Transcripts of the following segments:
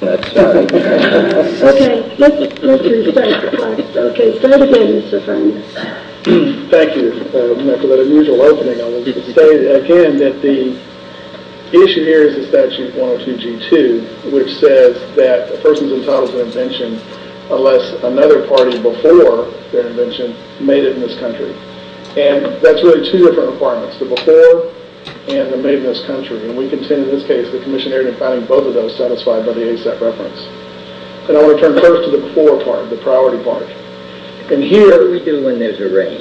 The issue here is the Statute 102-G2 which says that a person is entitled to an invention unless another party before their invention made it in this country. And that's really two different requirements, the before and the made in this country. And we contend in this case the commissionary in finding both of those satisfied by the ASAP reference. And I want to turn first to the before part, the priority part. And here... What do we do when there's a range?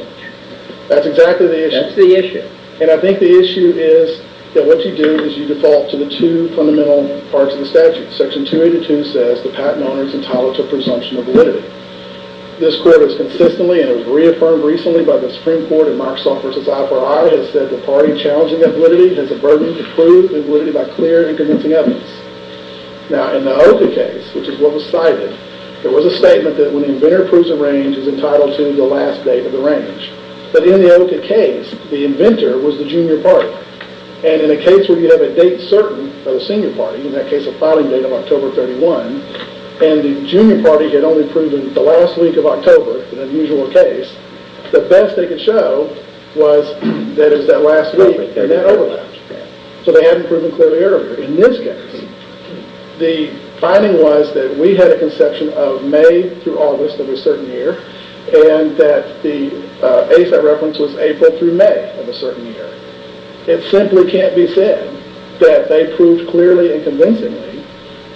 That's exactly the issue. That's the issue. And I think the issue is that what you do is you default to the two fundamental parts of the statute. Section 282 says the patent owner is entitled to a presumption of validity. This court has consistently and it was reaffirmed recently by the Supreme Court in Marksoff v. IFRI has said the party challenging that validity has a burden to prove validity by clear and convincing evidence. Now in the OCA case, which is what was cited, there was a statement that when the inventor approves a range is entitled to the last date of the range. But in the OCA case, the inventor was the junior party. And in a case where you have a date certain of the senior party, in that case a filing date of October 31, and the junior party had only proven the last week of October, an unusual case, the best they could show was that it was that last week and that overlapped. So they hadn't proven clearly earlier in this case. The finding was that we had a conception of May through August of a certain year and that the ASAP reference was April through May of a certain year. It simply can't be said that they proved clearly and convincingly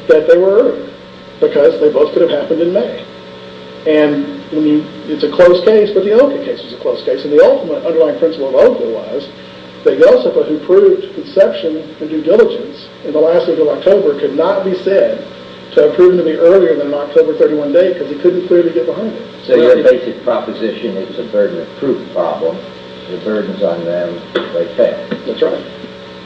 that they were earlier because they both could have happened in May. And it's a close case, but the OCA case was a close case. And the ultimate underlying principle of OCA was that Yosefa, who proved conception and due diligence in the last week of October, could not be said to have proven to be earlier than an October 31 date because he couldn't clearly get behind it. So your basic proposition is it's a burden of proof problem. The burden's on them. They pay. That's right.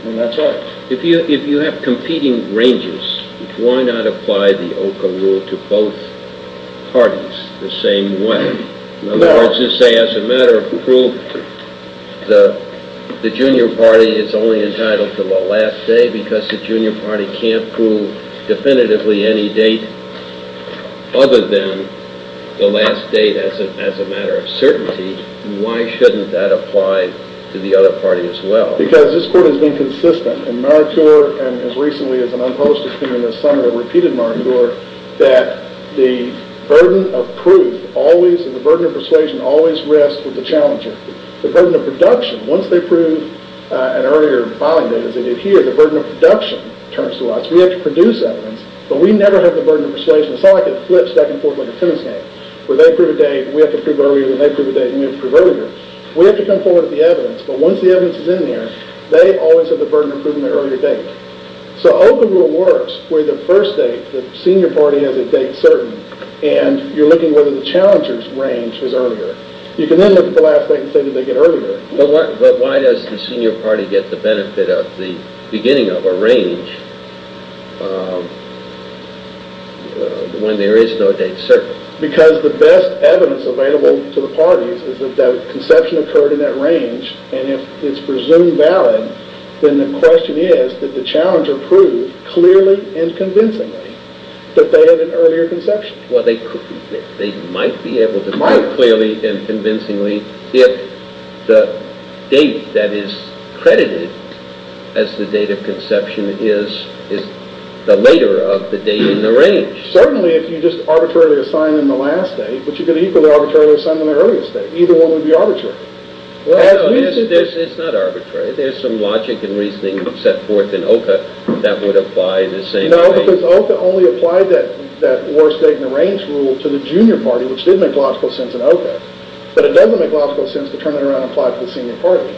And that's right. If you have competing ranges, why not apply the OCA rule to both parties the same way? In other words, you're saying as a matter of proof, the junior party is only entitled to the last day because the junior party can't prove definitively any date other than the last date as a matter of certainty. Why shouldn't that apply to the other party as well? Because this court has been consistent in maritore and as recently as an unposted thing maritore, that the burden of proof and the burden of persuasion always rests with the challenger. The burden of production, once they prove an earlier filing date as they did here, the burden of production turns to us. We have to produce evidence, but we never have the burden of persuasion. It's not like a flip, stack, and forth like a tennis game where they prove a date and we have to prove earlier than they prove a date and we have to prove earlier. We have to come forward with the evidence, but once the evidence is in there, they always have the burden of proving the earlier date. So open rule works where the first date, the senior party has a date certain and you're looking whether the challenger's range is earlier. You can then look at the last date and say did they get earlier. But why does the senior party get the benefit of the beginning of a range when there is no date certain? Because the best evidence available to the parties is that the conception occurred in that range and if it's presumed valid, then the question is that the challenger proved clearly and convincingly that they had an earlier conception. Well, they might be able to prove clearly and convincingly if the date that is credited as the date of conception is the later of the date in the range. Certainly if you just arbitrarily assign them the last date, but you could equally arbitrarily assign them the earlier date. Either one would be arbitrary. It's not arbitrary. There's some logic and reasoning set forth in OCA that would apply the same way. No, because OCA only applied that worst date in the range rule to the junior party, which did make logical sense in OCA, but it doesn't make logical sense to turn it around and apply it to the senior party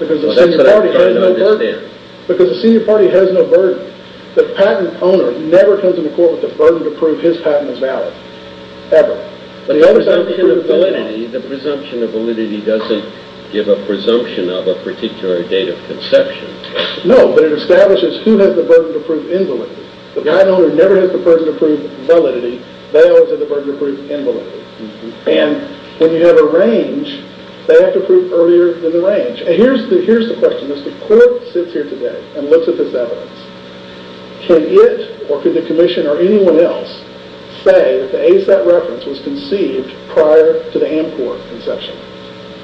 because the senior party has no burden. That's what I'm trying to understand. Because the senior party has no burden. The patent owner never comes into court with the validity. The presumption of validity doesn't give a presumption of a particular date of conception. No, but it establishes who has the burden to prove invalidity. The patent owner never has the burden to prove validity. They always have the burden to prove invalidity. And when you have a range, they have to prove earlier than the range. Here's the question. If the court sits here today and looks at this evidence, can it or can the commission or anyone else say that the ASAP reference was conceived prior to the AMCOR conception?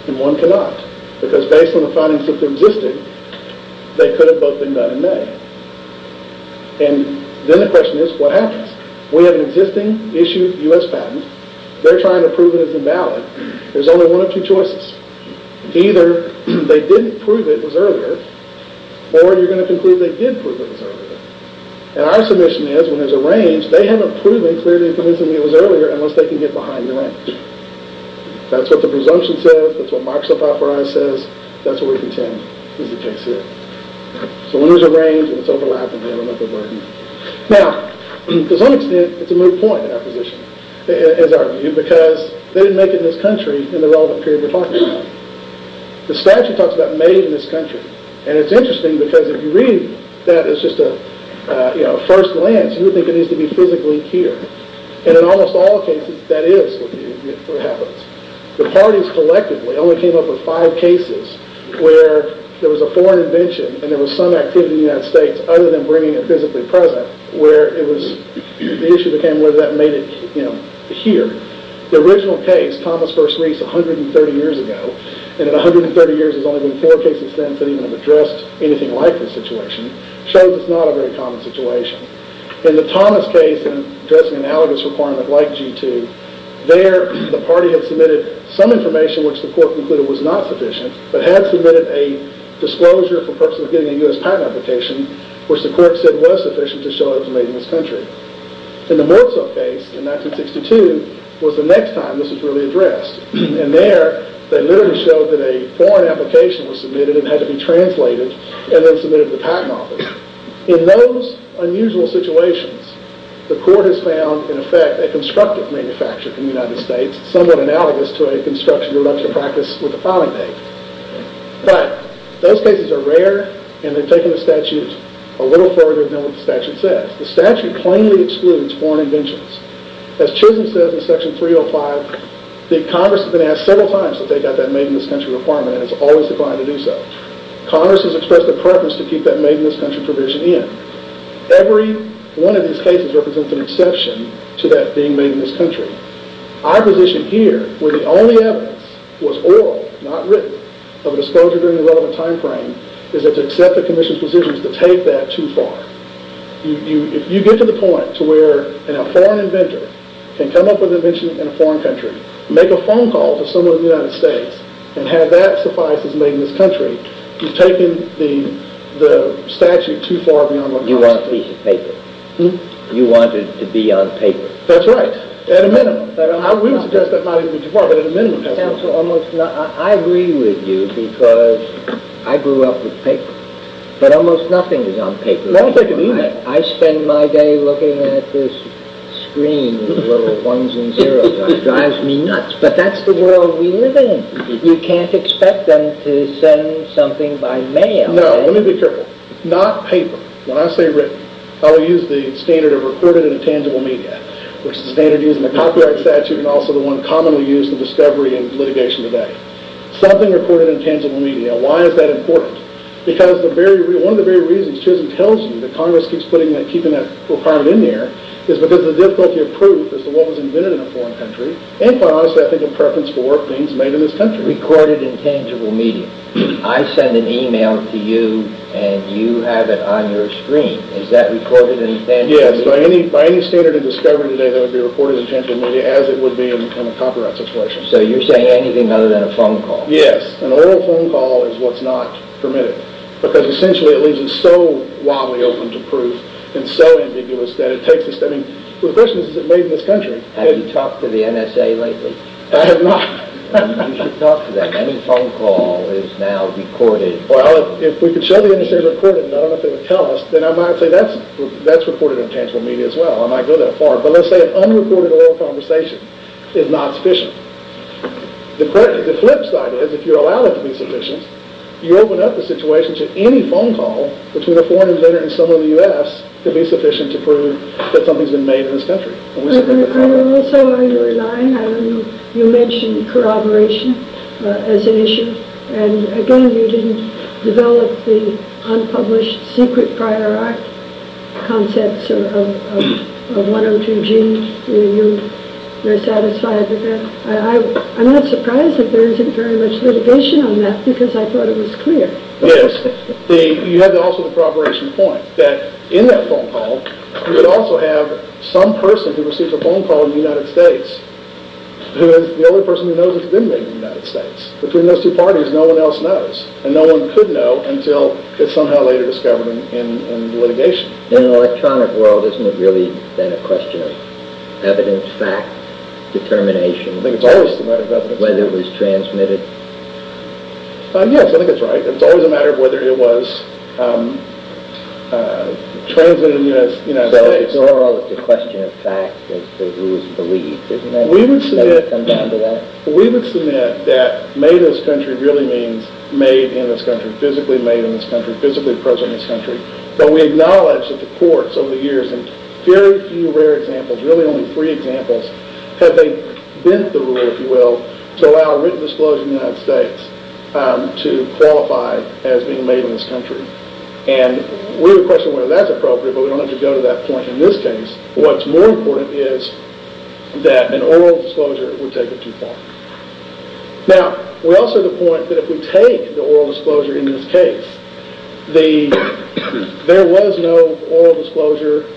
And one cannot, because based on the findings that existed, they could have both been done in May. And then the question is, what happens? We have an existing issued U.S. patent. They're trying to prove it as invalid. There's only one of two choices. Either they didn't prove it as earlier, or you're going to conclude they did prove it as earlier. And our submission is, when there's a range, they haven't proven clearly and convincingly it was earlier unless they can get behind the range. That's what the presumption says. That's what Microsoft authorized says. That's what we contend is the case here. So when there's a range and it's overlapping, they have another burden. Now, to some extent, it's a moot point in our position, in our view, because they didn't make it in this country in the relevant period we're talking about. The statute talks about made in this country. And it's interesting, because if you read that, it's just a first glance. You would think it needs to be physically here. And in almost all cases, that is what happens. The parties collectively only came up with five cases where there was a foreign invention and there was some activity in the United States other than bringing it physically present where the issue became whether that made it here. The original case, Thomas First Reece 130 years ago, and in 130 years there's only been four cases since that even have addressed anything like this situation, shows it's not a very common situation. In the Thomas case, addressing an allergist requirement like G2, there the party had submitted some information which the court concluded was not sufficient, but had submitted a disclosure for purposes of getting a U.S. patent application, which the court said was sufficient to show it was made in this country. In the Murtza case in 1962 was the next time this was really addressed. And there, they literally showed that a foreign application was submitted and had to be translated and then submitted to the patent office. In those unusual situations, the court has found, in effect, a constructive manufacture in the United States, somewhat analogous to a construction reduction practice with the filing date. But those cases are rare, and they've taken the statute a little further than what the statute says. The statute plainly excludes foreign inventions. As Chisholm says in Section 305, the Congress has been asked several times to take out that made-in-this-country requirement, and it's always declined to do so. Congress has expressed a preference to keep that made-in-this-country provision in. Every one of these cases represents an exception to that being made in this country. Our position here, where the only evidence was oral, not written, of a disclosure during the relevant time frame, is that to accept the Commission's position is to take that too far. If you get to the point to where a foreign inventor can come up with an invention in a foreign country, make a phone call to someone in the United States, and have that suffice as made-in-this-country, you've taken the statute too far beyond what the statute says. You want it to be on paper. You want it to be on paper. That's right. At a minimum. We would suggest that might even be too far, but at a minimum. I agree with you, because I grew up with paper. But almost nothing is on paper. I spend my day looking at this screen with little ones and zeros. It drives me nuts. But that's the world we live in. You can't expect them to send something by mail. No, let me be careful. Not paper. When I say written, I will use the standard of recorded and intangible media, which is the standard used in the copyright statute and also the one commonly used in discovery and litigation today. Something recorded in tangible media. Why is that important? One of the very reasons Chisholm tells you that Congress keeps keeping that requirement in there is because the difficulty of proof as to what was invented in a foreign country and, quite honestly, I think a preference for work being made in this country. Recorded and tangible media. I send an email to you, and you have it on your screen. Is that recorded and tangible media? Yes. By any standard of discovery today, that would be recorded and tangible media as it would be in a copyright situation. So you're saying anything other than a phone call. Yes. An oral phone call is what's not permitted because, essentially, it leaves us so wildly open to proof and so ambiguous that it takes us... The question is, is it made in this country? Have you talked to the NSA lately? I have not. You should talk to them. Any phone call is now recorded. Well, if we could show the NSA recorded, and I don't know if they would tell us, then I might say that's recorded in tangible media as well. I might go that far. But let's say an unrecorded oral conversation is not sufficient. The flip side is, if you allow it to be sufficient, you open up the situation to any phone call between a foreign inventor and someone in the U.S. to be sufficient to prove that something has been made in this country. And also, on your line, you mentioned corroboration as an issue. And, again, you didn't develop the unpublished secret prior art concepts of 102G. You're satisfied with that? I'm not surprised that there isn't very much litigation on that because I thought it was clear. Yes. You had also the corroboration point that, in that phone call, you would also have some person who received a phone call in the United States who is the only person who knows it's been made in the United States. Between those two parties, no one else knows. And no one could know until it's somehow later discovered in litigation. In an electronic world, isn't it really then a question of evidence, fact, determination? I think it's always a matter of evidence. Whether it was transmitted? Yes, I think it's right. It's always a matter of whether it was transmitted in the United States. So, in general, it's a question of fact as to who is believed, isn't it? We would submit that made in this country really means made in this country, physically made in this country, physically present in this country. But we acknowledge that the courts over the years, in very few rare examples, really only three examples, have they bent the rule, if you will, to allow written disclosure in the United States to qualify as being made in this country. And we would question whether that's appropriate, but we don't have to go to that point in this case. What's more important is that an oral disclosure would take it too far. Now, we also have to point that if we take the oral disclosure in this case, there was no oral disclosure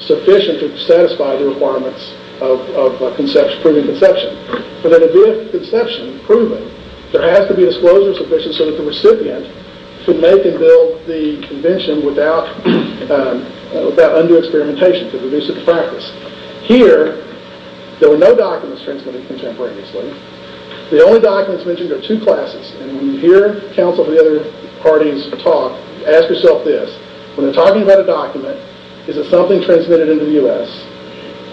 sufficient to satisfy the requirements of proving conception. For the idea of conception, proving, there has to be a disclosure sufficient so that the recipient could make and build the invention without undue experimentation to reduce its practice. Here, there were no documents transmitted contemporaneously. The only documents mentioned are two classes, and when you hear counsel from the other parties talk, ask yourself this, when they're talking about a document, is it something transmitted in the U.S.,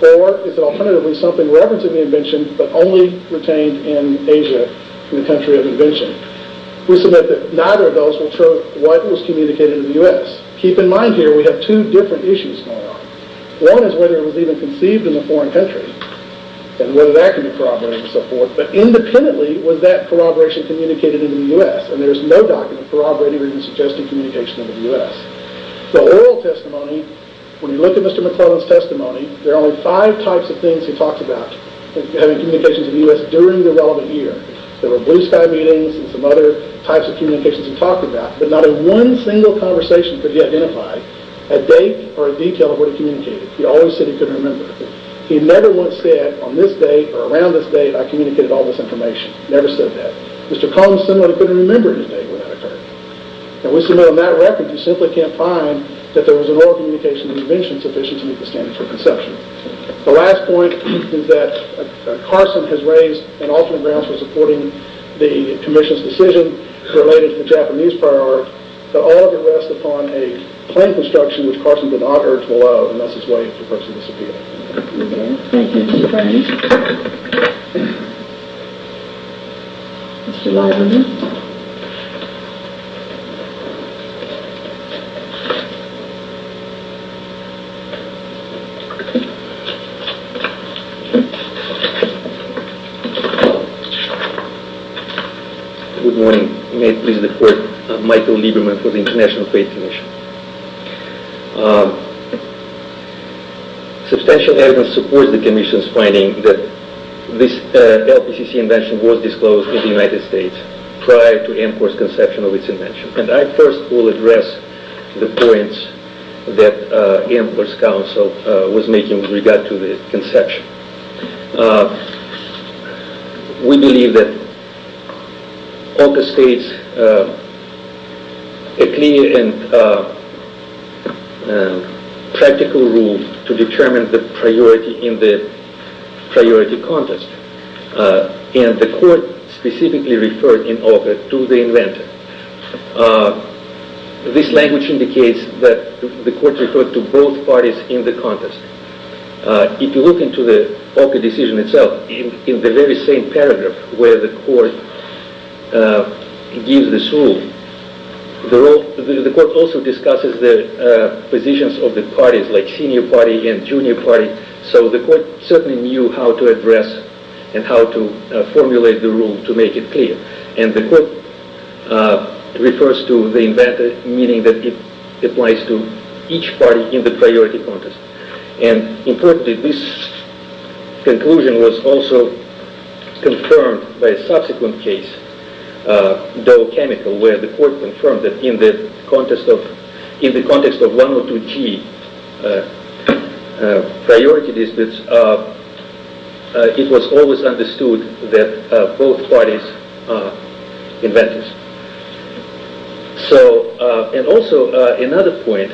or is it alternatively something referenced in the invention, but only retained in Asia, in the country of invention? We submit that neither of those will show what was communicated in the U.S. Keep in mind here, we have two different issues going on. One is whether it was even conceived in a foreign country, and whether that could be corroborated and so forth, but independently, was that corroboration communicated in the U.S.? And there's no document corroborating or even suggesting communication in the U.S. The oral testimony, when you look at Mr. McClellan's testimony, there are only five types of things he talks about having communications in the U.S. during the relevant year. There were blue sky meetings and some other types of communications he talked about, but not in one single conversation could he identify a date or a detail of what he communicated. He always said he couldn't remember. He never once said, on this date or around this date, I communicated all this information. Never said that. Mr. Collins similarly couldn't remember any date when that occurred. And we submit on that record, you simply can't find that there was an oral communication in the invention sufficient to meet the standard for conception. The last point is that Carson has raised an alternate grounds for supporting the commission's decision related to the Japanese prior art, but all of it rests upon a plain construction which Carson did not urge below. And that's his way of approaching this appeal. Okay. Thank you, Mr. Frank. Mr. Leiberman. Good morning. May it please the Court, Michael Leiberman for the International Faith Commission. Substantial evidence supports the commission's finding that this LPCC invention was disclosed in the United States prior to AMCOR's conception of its invention. And I first will address the points that AMCOR's counsel was making with regard to the conception. We believe that OCA states a clear and practical rule to determine the priority in the priority contest. And the Court specifically referred in OCA to the inventor. This language indicates that the Court referred to both parties in the contest. If you look into the OCA decision itself, in the very same paragraph where the Court gives this rule, the Court also discusses the positions of the parties, like senior party and junior party. So the Court certainly knew how to address and how to formulate the rule to make it clear. And the Court refers to the inventor, meaning that it applies to each party in the priority contest. Importantly, this conclusion was also confirmed by a subsequent case, Doe Chemical, where the Court confirmed that in the context of 102G priority disputes, it was always understood that both parties are inventors. Also, another point,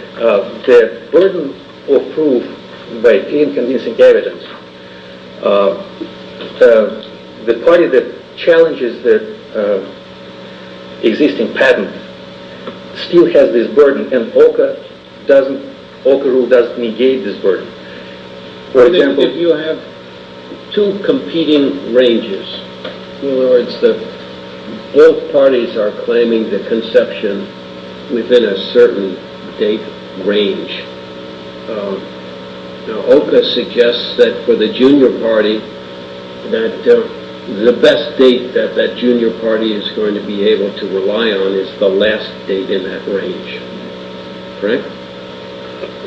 the burden of proof by inconvincing evidence, the party that challenges the existing patent still has this burden and OCA rule doesn't negate this burden. If you have two competing ranges, in other words, both parties are claiming the conception within a certain date range, OCA suggests that for the junior party, that the best date that that junior party is going to be able to rely on is the last date in that range. Correct?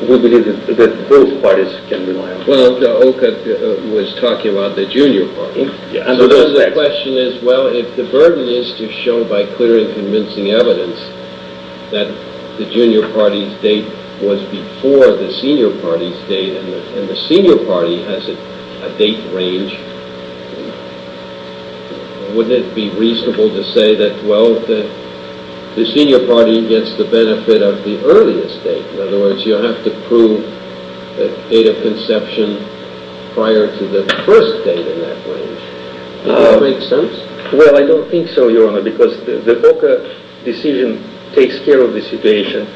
We believe that both parties can rely on it. Well, OCA was talking about the junior party. So the question is, well, if the burden is to show by clear and convincing evidence that the junior party's date was before the senior party's date and the senior party has a date range, wouldn't it be reasonable to say that the senior party gets the benefit of the earliest date? In other words, you have to prove the date of conception prior to the first date in that range. Does that make sense? Well, I don't think so, Your Honor, because the OCA decision takes care of the situation.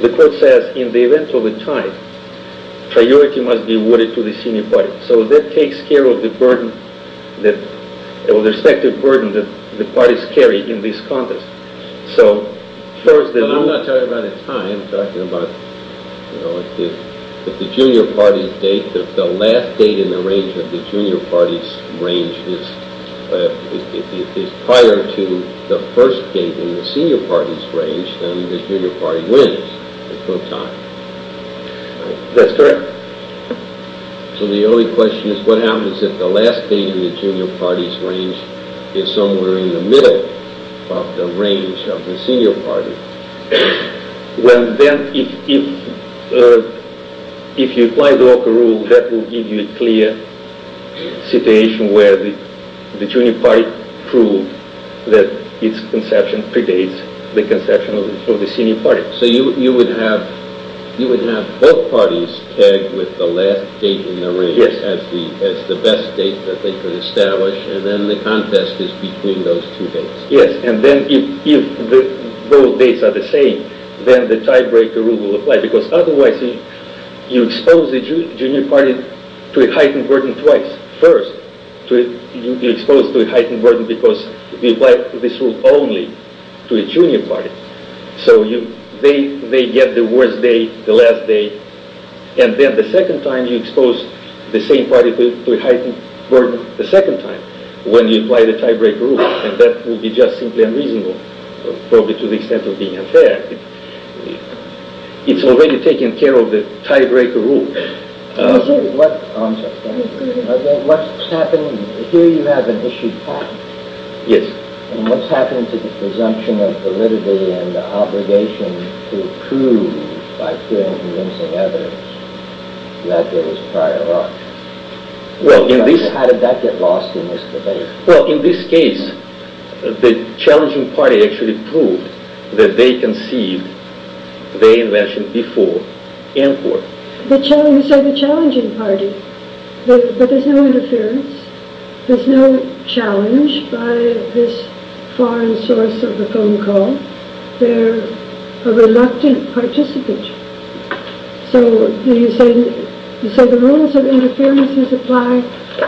The Court says in the event of a tie, priority must be awarded to the senior party. So that takes care of the burden, the respective burden that the parties carry in this contest. But I'm not talking about a tie. I'm talking about if the junior party's date, the last date in the range of the junior party's range is prior to the first date in the senior party's range, then the junior party wins. That's correct. So the only question is, what happens if the last date in the junior party's range is somewhere in the middle of the range of the senior party? Well, then if you apply the OCA rule, that will give you a clear situation where the junior party proved that its conception predates the conception of the senior party. So you would have both parties tagged with the last date in the range as the best date that they can establish, and then the contest is between those two dates. Yes, and then if both dates are the same, then the tiebreaker rule will apply, because otherwise you expose the junior party to a heightened burden twice. First, you'll be exposed to a heightened burden because we apply this rule only to a junior party. So they get the worst date, the last date, and then the second time you expose the same party to a heightened burden the second time when you apply the tiebreaker rule, and that will be just simply unreasonable, probably to the extent of being unfair. It's already taken care of, the tiebreaker rule. I'm sorry. Here you have an issued patent. Yes. And what's happening to the presumption of validity and the obligation to prove by clear and convincing evidence that there was prior work? How did that get lost in this debate? Well, in this case, the challenging party actually proved that they conceived their invention before import. You say the challenging party, but there's no interference. There's no challenge by this foreign source of the phone call. They're a reluctant participant. So the rules of interference apply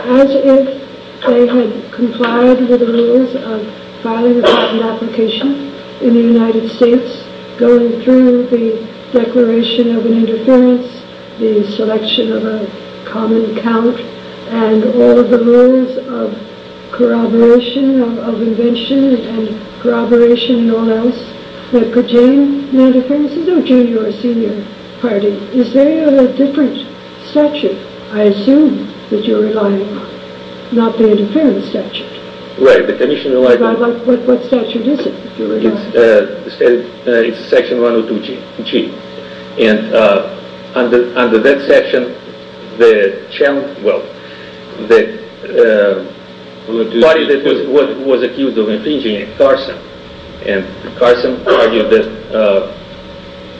as if they had complied with the rules of filing a patent application in the United States, going through the declaration of an interference, the selection of a common count, and all of the rules of corroboration of invention and corroboration and all else that could gain an interference. There's no junior or senior party. Is there a different statute, I assume, that you're relying on? Not the interference statute. Right. What statute is it? It's Section 102G. And under that section, the party that was accused of infringing, Carson, and Carson argued that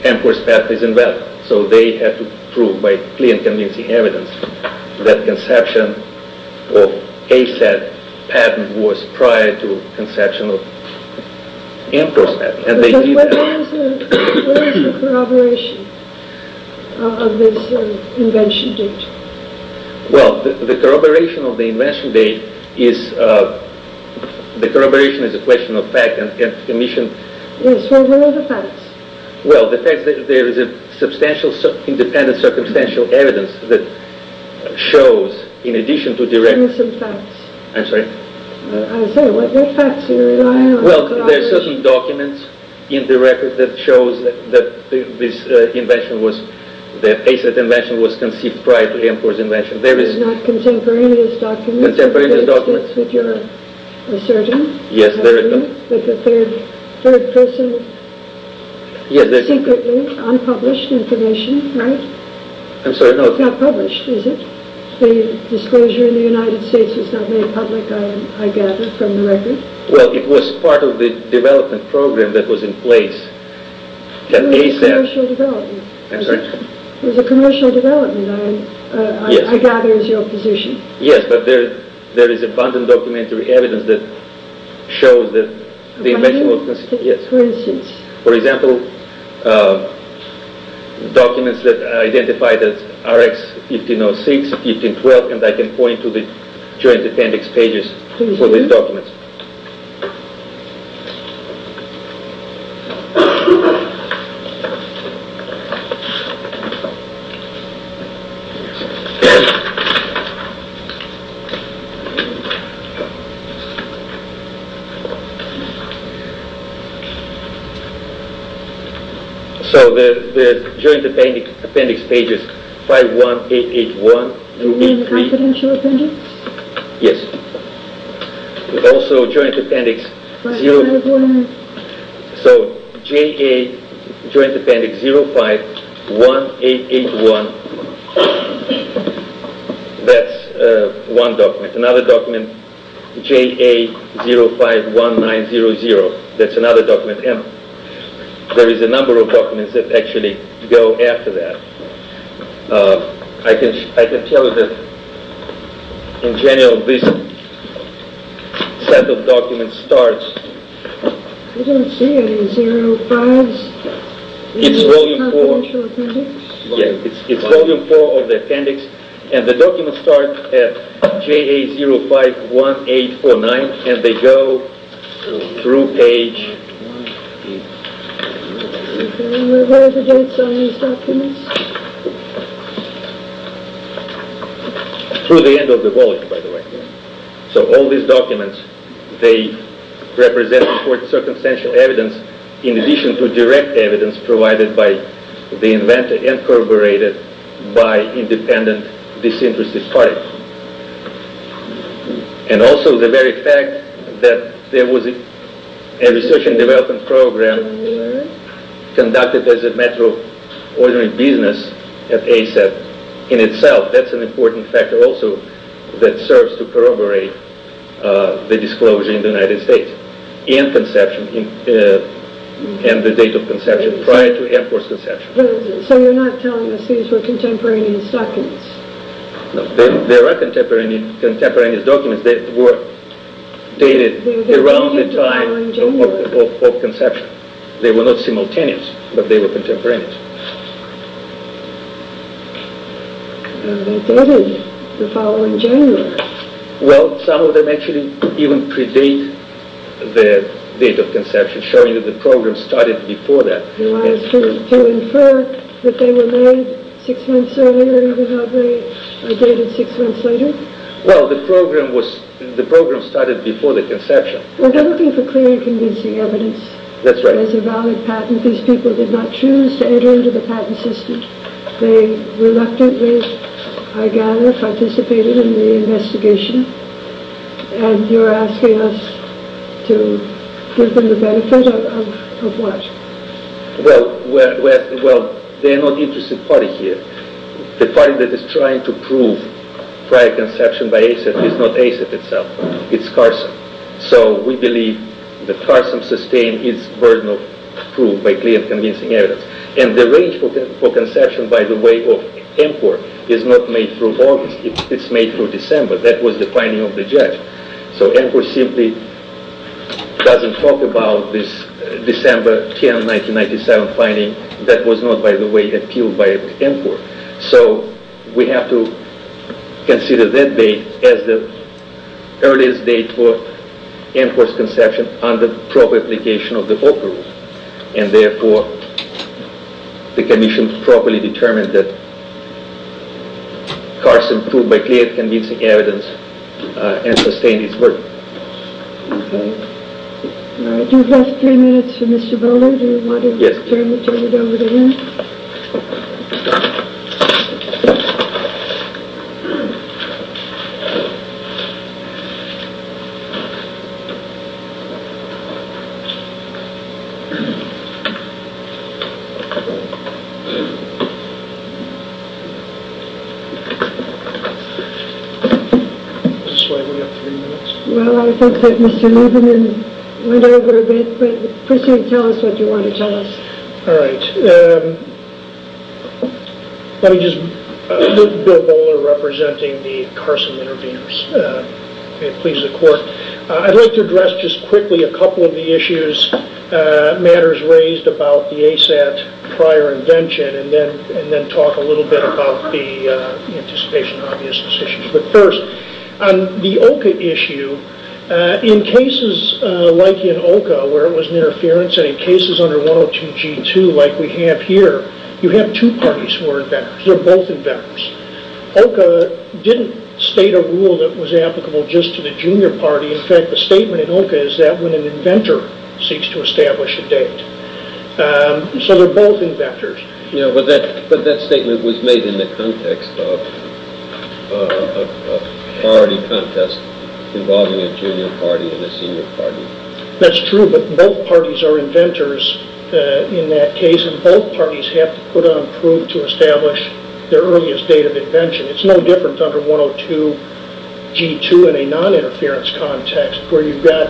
Amcor's patent is invalid. So they had to prove by clear and convincing evidence that conception of ASAT patent was prior to conception of Amcor's patent. What is the corroboration of this invention date? Well, the corroboration of the invention date is a question of fact and commission. So what are the facts? Well, the fact that there is a substantial independent circumstantial evidence that shows, in addition to direct... Give me some facts. I'm sorry? I said, what facts are you relying on? Well, there are certain documents in the record that shows that this invention was, that ASAT invention was conceived prior to Amcor's invention. Not contemporaneous documents? Contemporaneous documents. A surgeon? Yes. A third person? Yes. Secretly? Unpublished information? Right? I'm sorry, no. It's not published, is it? The disclosure in the United States was not made public, I gather, from the record? Well, it was part of the development program that was in place. Commercial development. I'm sorry? It was a commercial development, I gather, is your position. Yes, but there is abundant documentary evidence that shows that the invention was conceived... Abundant? Yes. For instance? For example, documents that identify the RX 1506, 1512, and I can point to the joint appendix pages for these documents. So, the joint appendix pages 51881... You mean the confidential appendix? Yes. Also, joint appendix... 51881... So, JA Joint Appendix 051881, that's one document. Another document, JA 051900, that's another document. There is a number of documents that actually go after that. I can tell you that, in general, this set of documents starts... It's Volume 4 of the appendix, and the documents start at JA 051849, and they go through page... Through the end of the volume, by the way. So, all these documents, they represent important circumstantial evidence, in addition to direct evidence provided by the inventor and corroborated by independent disinterested parties. And also, the very fact that there was a research and development program conducted as a matter of ordinary business at ASAP, in itself, that's an important factor also that serves to corroborate the disclosure in the United States, and the date of conception prior to Air Force conception. So, you're not telling us these were contemporaneous documents? There are contemporaneous documents that were dated around the time of conception. They were not simultaneous, but they were contemporaneous. They dated the following January. Well, some of them actually even predate the date of conception, showing that the program started before that. You want us to infer that they were made six months earlier, even though they are dated six months later? Well, the program started before the conception. We're looking for clear and convincing evidence that there's a valid patent. These people did not choose to enter into the patent system. They reluctantly, I gather, participated in the investigation, and you're asking us to give them the benefit of what? Well, they're not an interested party here. The party that is trying to prove prior conception by ASAP is not ASAP itself. It's Carson. So, we believe that Carson sustained his burden of proof by clear and convincing evidence. And the range for conception, by the way, of MPOR is not made through August. It's made through December. That was the finding of the judge. So, MPOR simply doesn't talk about this December 10, 1997 finding. That was not, by the way, appealed by MPOR. So, we have to consider that date as the earliest date for MPOR's conception under proper application of the Oak Rule. And, therefore, the commission properly determined that Carson proved by clear and convincing evidence and sustained his burden. Okay. We have three minutes for Mr. Bowler. Do you want to turn it over to him? Yes. Well, I think that Mr. Lieberman went over a bit, but proceed and tell us what you want to tell us. All right. Let me just put Bill Bowler representing the Carson Intervenors. It pleases the court. I'd like to address just quickly a couple of the issues, matters raised about the ASAT prior invention and then talk a little bit about the anticipation of obvious decisions. But, first, on the OCA issue, in cases like in OCA where it was interference and in cases under 102 G2 like we have here, you have two parties who are inventors. They're both inventors. OCA didn't state a rule that was applicable just to the junior party. In fact, the statement in OCA is that when an inventor seeks to establish a date. So they're both inventors. Yeah, but that statement was made in the context of a priority contest involving a junior party and a senior party. That's true, but both parties are inventors in that case, and both parties have to put on proof to establish their earliest date of invention. It's no different under 102 G2 in a noninterference context where you've got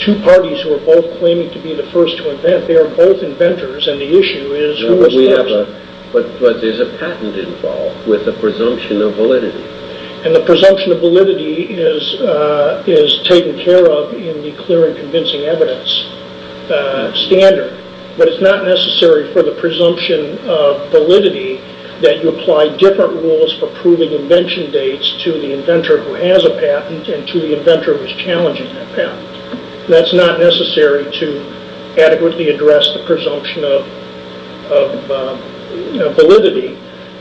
two parties who are both claiming to be the first to invent. They are both inventors, and the issue is who is first. But there's a patent involved with a presumption of validity. And the presumption of validity is taken care of in the clear and convincing evidence standard, but it's not necessary for the presumption of validity that you apply different rules for proving invention dates to the inventor who has a patent and to the inventor who is challenging that patent. That's not necessary to adequately address the presumption of validity.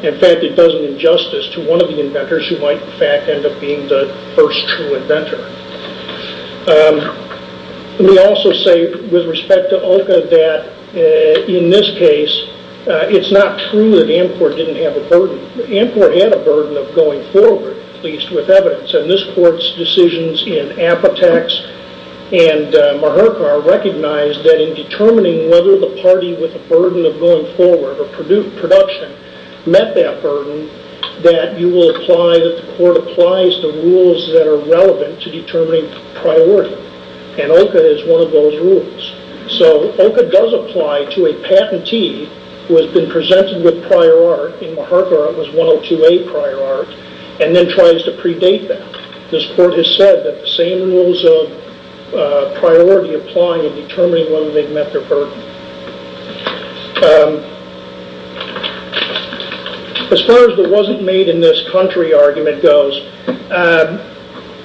In fact, it does an injustice to one of the inventors who might in fact end up being the first true inventor. Let me also say with respect to Olka that in this case, it's not true that Amcor didn't have a burden. Amcor had a burden of going forward, at least with evidence, and this court's decisions in Apotex and Maherkar recognized that in determining whether the party with a burden of going forward or production met that burden, that the court applies the rules that are relevant to determining priority. And Olka is one of those rules. So Olka does apply to a patentee who has been presented with prior art, in Maherkar it was 102A prior art, and then tries to predate that. This court has said that the same rules of priority apply in determining whether they've met their burden. As far as the wasn't made in this country argument goes,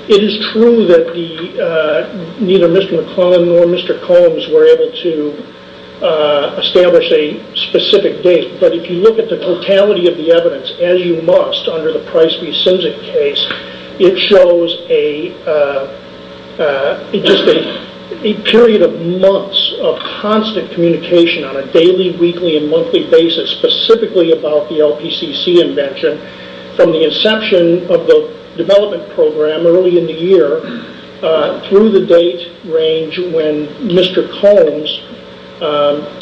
it is true that neither Mr. McClellan nor Mr. Combs were able to establish a specific date, but if you look at the totality of the evidence, as you must under the Price v. Simzik case, it shows a period of months of constant communication on a daily, weekly, and monthly basis, specifically about the LPCC invention from the inception of the development program early in the year through the date range when Mr. Combs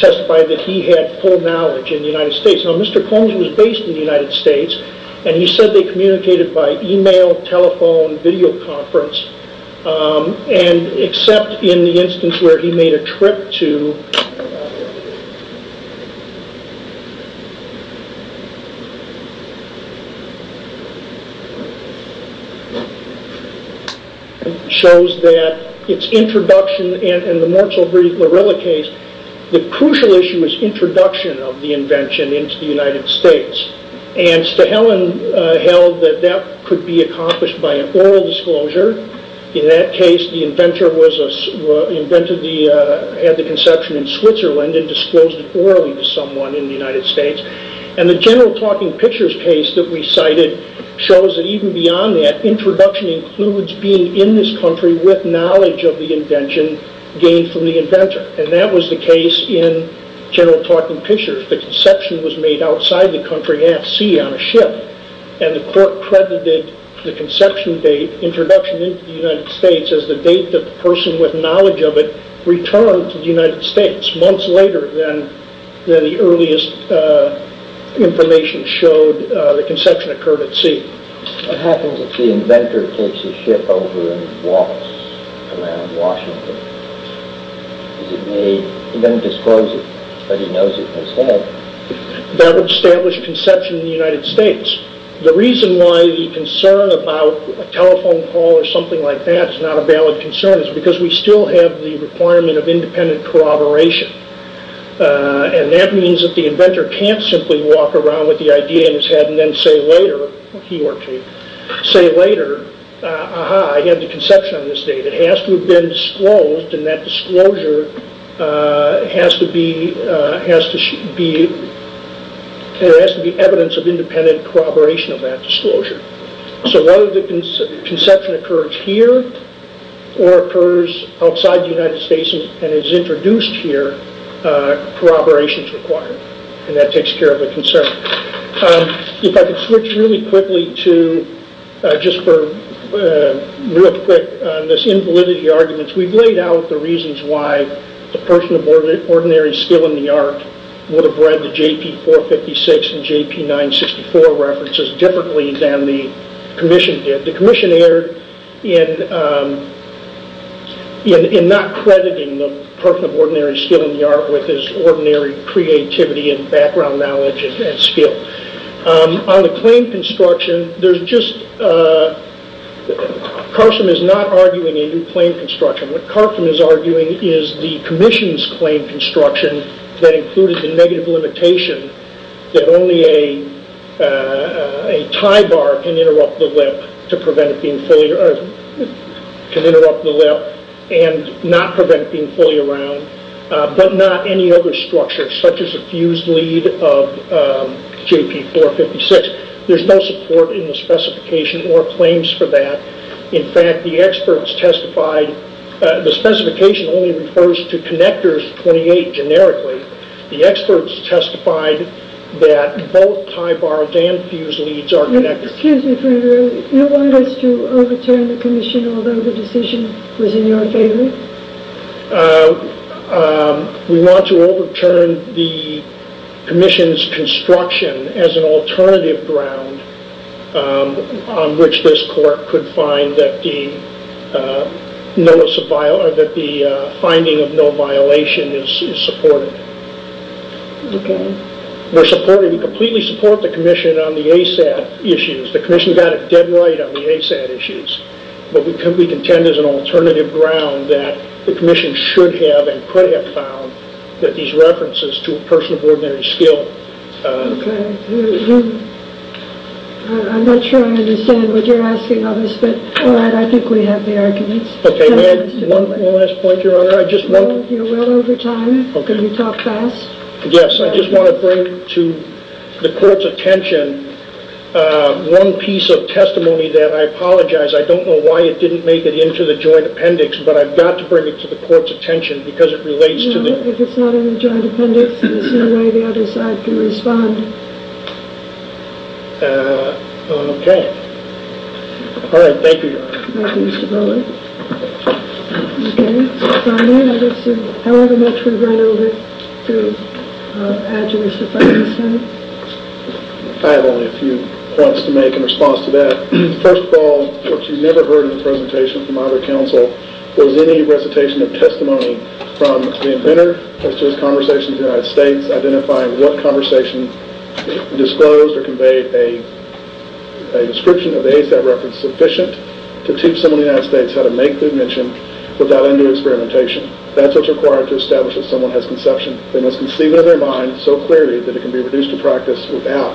testified that he had full knowledge in the United States. Now Mr. Combs was based in the United States, and he said they communicated by email, telephone, videoconference, except in the instance where he made a trip to... It shows that it's introduction, and in the Mortzler-Lorella case, the crucial issue is introduction of the invention into the United States, and Stahelin held that that could be accomplished by an oral disclosure. In that case, the inventor had the conception in Switzerland and disclosed it orally to someone in the United States, and the general talking pictures case that we cited shows that even beyond that, introduction includes being in this country with knowledge of the invention gained from the inventor, and that was the case in general talking pictures. The conception was made outside the country at sea on a ship, and the court credited the conception date, introduction into the United States, as the date the person with knowledge of it returned to the United States. Months later than the earliest information showed, the conception occurred at sea. What happens if the inventor takes a ship over and walks around Washington? Does he make... He doesn't disclose it, but he knows it in his head. That would establish conception in the United States. The reason why the concern about a telephone call or something like that is not a valid concern is because we still have the requirement of independent corroboration, and that means that the inventor can't simply walk around with the idea in his head and then say later, he or she, say later, aha, I have the conception on this date, it has to have been disclosed, and that disclosure has to be evidence of independent corroboration of that disclosure. So whether the conception occurs here or occurs outside the United States and is introduced here, corroboration is required, and that takes care of the concern. If I could switch really quickly to, just for real quick, this invalidity argument. We've laid out the reasons why the person of ordinary skill in the art would have read the JP456 and JP964 references differently than the commission did. The commission erred in not crediting the person of ordinary skill in the art with his ordinary creativity and background knowledge and skill. On the claim construction, Carson is not arguing a new claim construction. What Carson is arguing is the commission's claim construction that included the negative limitation that only a tie bar can interrupt the lip and not prevent being fully around, but not any other structure, such as a fused lead of JP456. There's no support in the specification or claims for that. In fact, the experts testified, the specification only refers to connectors 28 generically. The experts testified that both tie bars and fused leads are connectors. Excuse me, you want us to overturn the commission, although the decision was in your favor? We want to overturn the commission's construction as an alternative ground on which this court could find that the finding of no violation is supported. Okay. We completely support the commission on the ASAT issues. The commission got it dead right on the ASAT issues, but we contend as an alternative ground that the commission should have and could have found that these references to a person of ordinary skill... Okay. I'm not sure I understand what you're asking of us, but all right, I think we have the arguments. One last point, Your Honor. You're well over time. Can you talk fast? Yes, I just want to bring to the court's attention one piece of testimony that I apologize. I don't know why it didn't make it into the joint appendix, but I've got to bring it to the court's attention because it relates to the... No, if it's not in the joint appendix, there's no way the other side can respond. Okay. All right, thank you, Your Honor. Thank you, Mr. Miller. Okay. So from then, I guess however much we run over to address the findings, sir. I have only a few points to make in response to that. First of all, what you never heard in the presentation from either counsel was any recitation of testimony from the inventor as to his conversation in the United States, identifying what conversation disclosed or conveyed a description of the ASAT reference sufficient to teach someone in the United States how to make the invention without undue experimentation. That's what's required to establish that someone has conception. They must conceive it in their mind so clearly that it can be reduced to practice without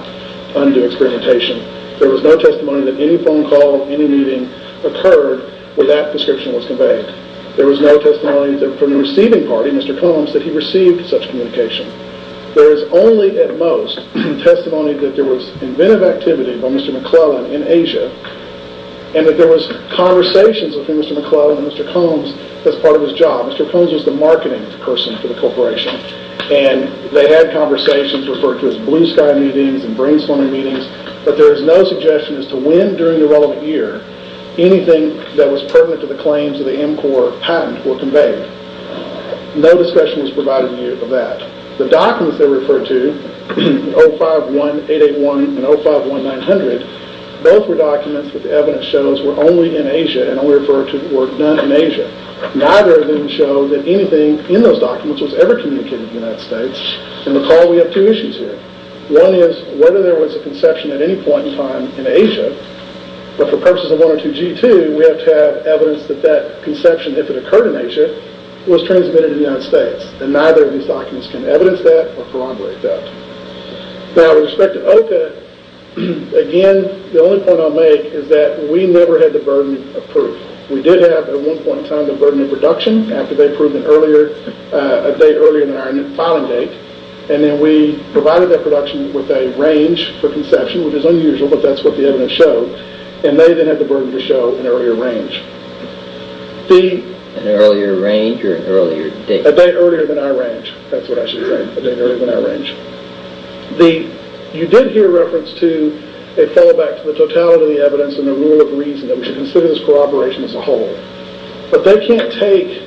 undue experimentation. There was no testimony that any phone call, any meeting occurred where that description was conveyed. There was no testimony from the receiving party, Mr. Combs, that he received such communication. There is only at most testimony that there was inventive activity by Mr. McClellan in Asia and that there was conversations between Mr. McClellan and Mr. Combs as part of his job. Mr. Combs was the marketing person for the corporation, and they had conversations referred to as blue sky meetings and brainstorming meetings, but there is no suggestion as to when during the relevant year anything that was pertinent to the claims of the MCOR patent were conveyed. No discussion was provided of that. The documents they referred to, 051881 and 051900, both were documents that the evidence shows were only in Asia and only referred to or done in Asia. Neither of them show that anything in those documents was ever communicated in the United States, and recall we have two issues here. One is whether there was a conception at any point in time in Asia, but for purposes of 102G2 we have to have evidence that that conception, if it occurred in Asia, was transmitted in the United States, and neither of these documents can evidence that or corroborate that. Now with respect to OCA, again, the only point I'll make is that we never had the burden of proof. We did have at one point in time the burden of production after they proved an earlier date, an earlier filing date, and then we provided that production with a range for conception, which is unusual, but that's what the evidence showed, and they then had the burden to show an earlier range. An earlier range or an earlier date? A date earlier than our range, that's what I should say, a date earlier than our range. You did hear reference to a fallback to the totality of the evidence and the rule of reason that we should consider this corroboration as a whole, but they can't take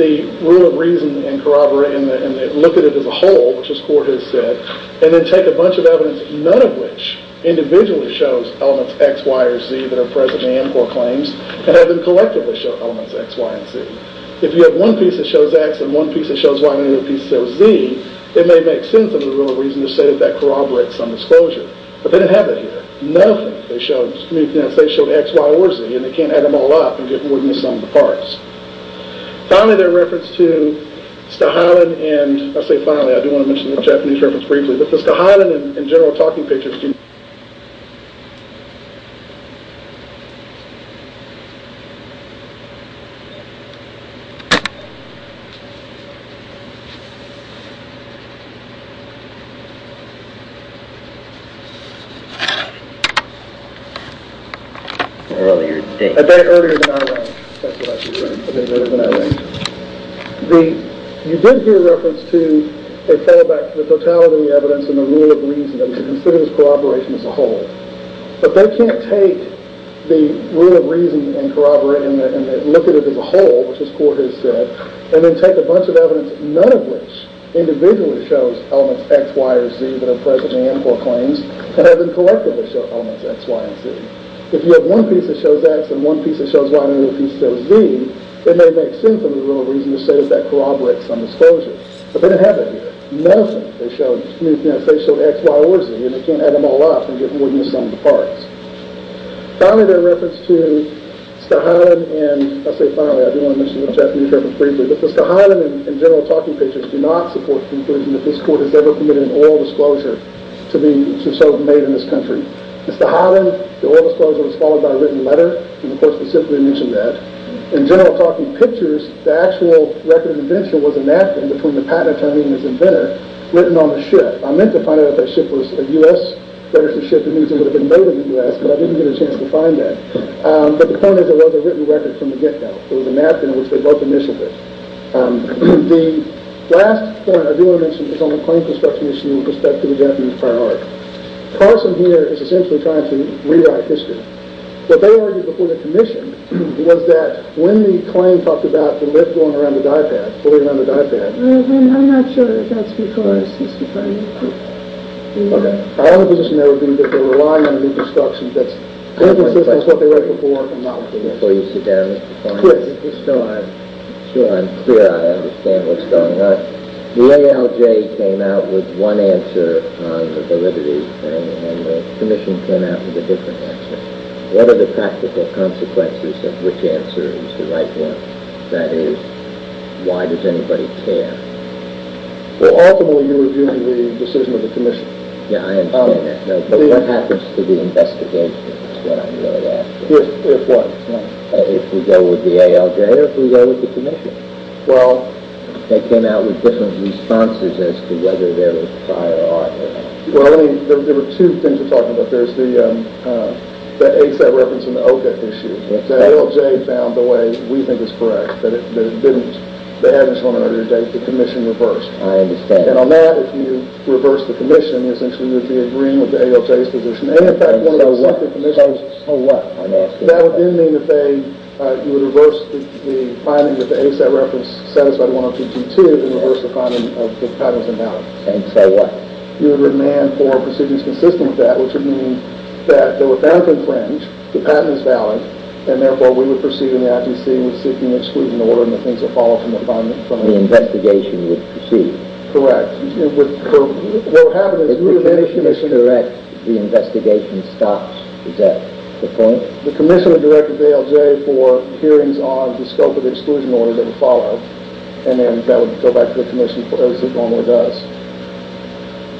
the rule of reason and look at it as a whole, which this court has said, and then take a bunch of evidence, none of which individually shows elements X, Y, or Z, that are present in AMCOR claims, and have them collectively show elements X, Y, and Z. If you have one piece that shows X and one piece that shows Y and another piece that shows Z, it may make sense under the rule of reason to say that that corroborates some disclosure, but they didn't have it here. Nothing they showed, they showed X, Y, or Z, and they can't add them all up and get rid of some of the parts. Finally, their reference to Skahalen, and I say finally, I do want to mention the Japanese reference briefly, this is Skahalen in general talking pictures. You did hear reference to a fallback to the totality of the evidence and the rule of reason that we should consider this corroboration as a whole, but they can't take the rule of reason and corroborate and look at it as a whole, which this court has said, and then take a bunch of evidence, none of which individually shows elements X, Y, or Z, but they can't take a bunch of evidence, none of which individually shows elements X, Y, or Z, and then look at it as a whole, which this court has said, Mr. Holland, the oil disclosure was followed by a written letter, and the court specifically mentioned that. In General Talking Pictures, the actual record of invention was a napkin between the patent attorney and his inventor, written on the ship. I meant to find out if that ship was a U.S. registered ship, it needs to have been made in the U.S., but I didn't get a chance to find that. But the point is, it was a written record from the get-go. It was a napkin in which they wrote the mission here. The last point I do want to mention, is on the claim construction issue with respect to the Japanese prior art. Carson here is essentially trying to rewrite history. What they argued before the commission, was that when the claim talked about the lift going around the diapad, pulling around the diapad... I'm not sure if that's because... Okay. My only position there would be that they're relying on new construction. That's what they're looking for. Before you sit down, Mr. Cohen, just so I'm clear, I understand what's going on. The ALJ came out with one answer on the validity thing, and the commission came out with a different answer. What are the practical consequences of which answer is the right one? That is, why does anybody care? Ultimately, you're arguing the decision of the commission. Yeah, I understand that. But what happens to the investigation is what I'm really asking. If what? If we go with the ALJ or if we go with the commission. They came out with different responses as to whether they were prior art or not. There were two things you're talking about. There's the ASAP reference and the OCA issue. The ALJ found the way we think is correct, that it didn't. They hadn't shown an earlier date. The commission reversed. I understand. And on that, if you reverse the commission, essentially you would be agreeing with the ALJ's position. And in fact, one of the commissioners... So what? That would then mean that you would reverse the finding that the ASAP reference satisfied 102.2 and reverse the finding that the patent is invalid. And so what? You would demand for proceedings consistent with that, which would mean that they were found to be fringe, the patent is valid, and therefore we would proceed in the IPC with seeking exclusion order and the things that follow from the finding. The investigation would proceed. Correct. What would happen is you would have any commission... The commission would direct the ALJ for hearings on the scope of the exclusion order that would follow, and then that would go back to the commission as it normally does.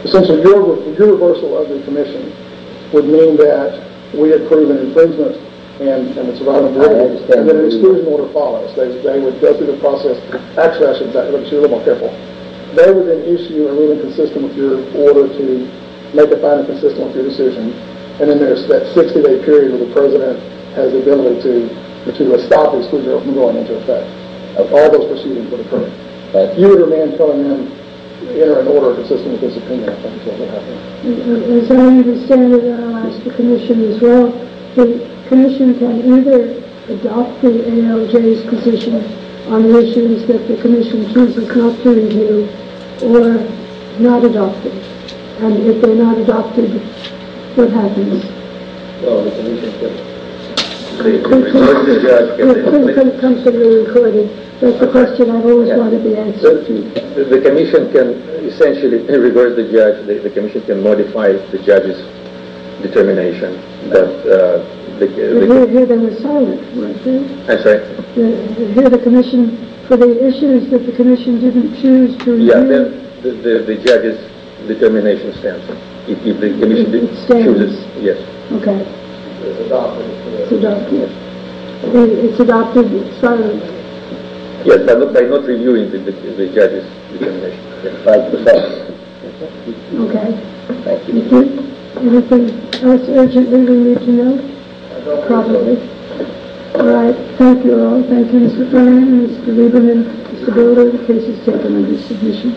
Essentially, universal of the commission would mean that we approve an infringement, and the exclusion order follows. They would go through the process. Actually, I should have said that, but you're a little more careful. They would then issue a ruling consistent with your order to make the finding consistent with your decision, and then there's that 60-day period where the president has the ability to stop exclusion from going into effect. All those proceedings would occur. You would demand for them to enter an order consistent with this opinion. That's what would happen. As I understand it, and I'll ask the commission as well, the commission can either adopt the ALJ's position on issues that the commission chooses not to review or not adopt it. If they're not adopted, what happens? The commission can reverse the judge. Please come to the recording. That's the question I've always wanted the answer to. The commission can essentially reverse the judge. The commission can modify the judge's determination. You would hear them in silence, wouldn't you? I'm sorry? You would hear the commission for the issues that the commission didn't choose to review. The judge's determination stands. If the commission chooses, yes. Okay. It's adopted. It's adopted. It's adopted in silence. Yes, by not reviewing the judge's determination. Okay. Thank you. Anything else urgently we need to know? No. Probably. All right. Thank you all. Thank you, Mr. Brennan and Mr. Lieberman. Mr. Bilodeau, the case is taken under submission.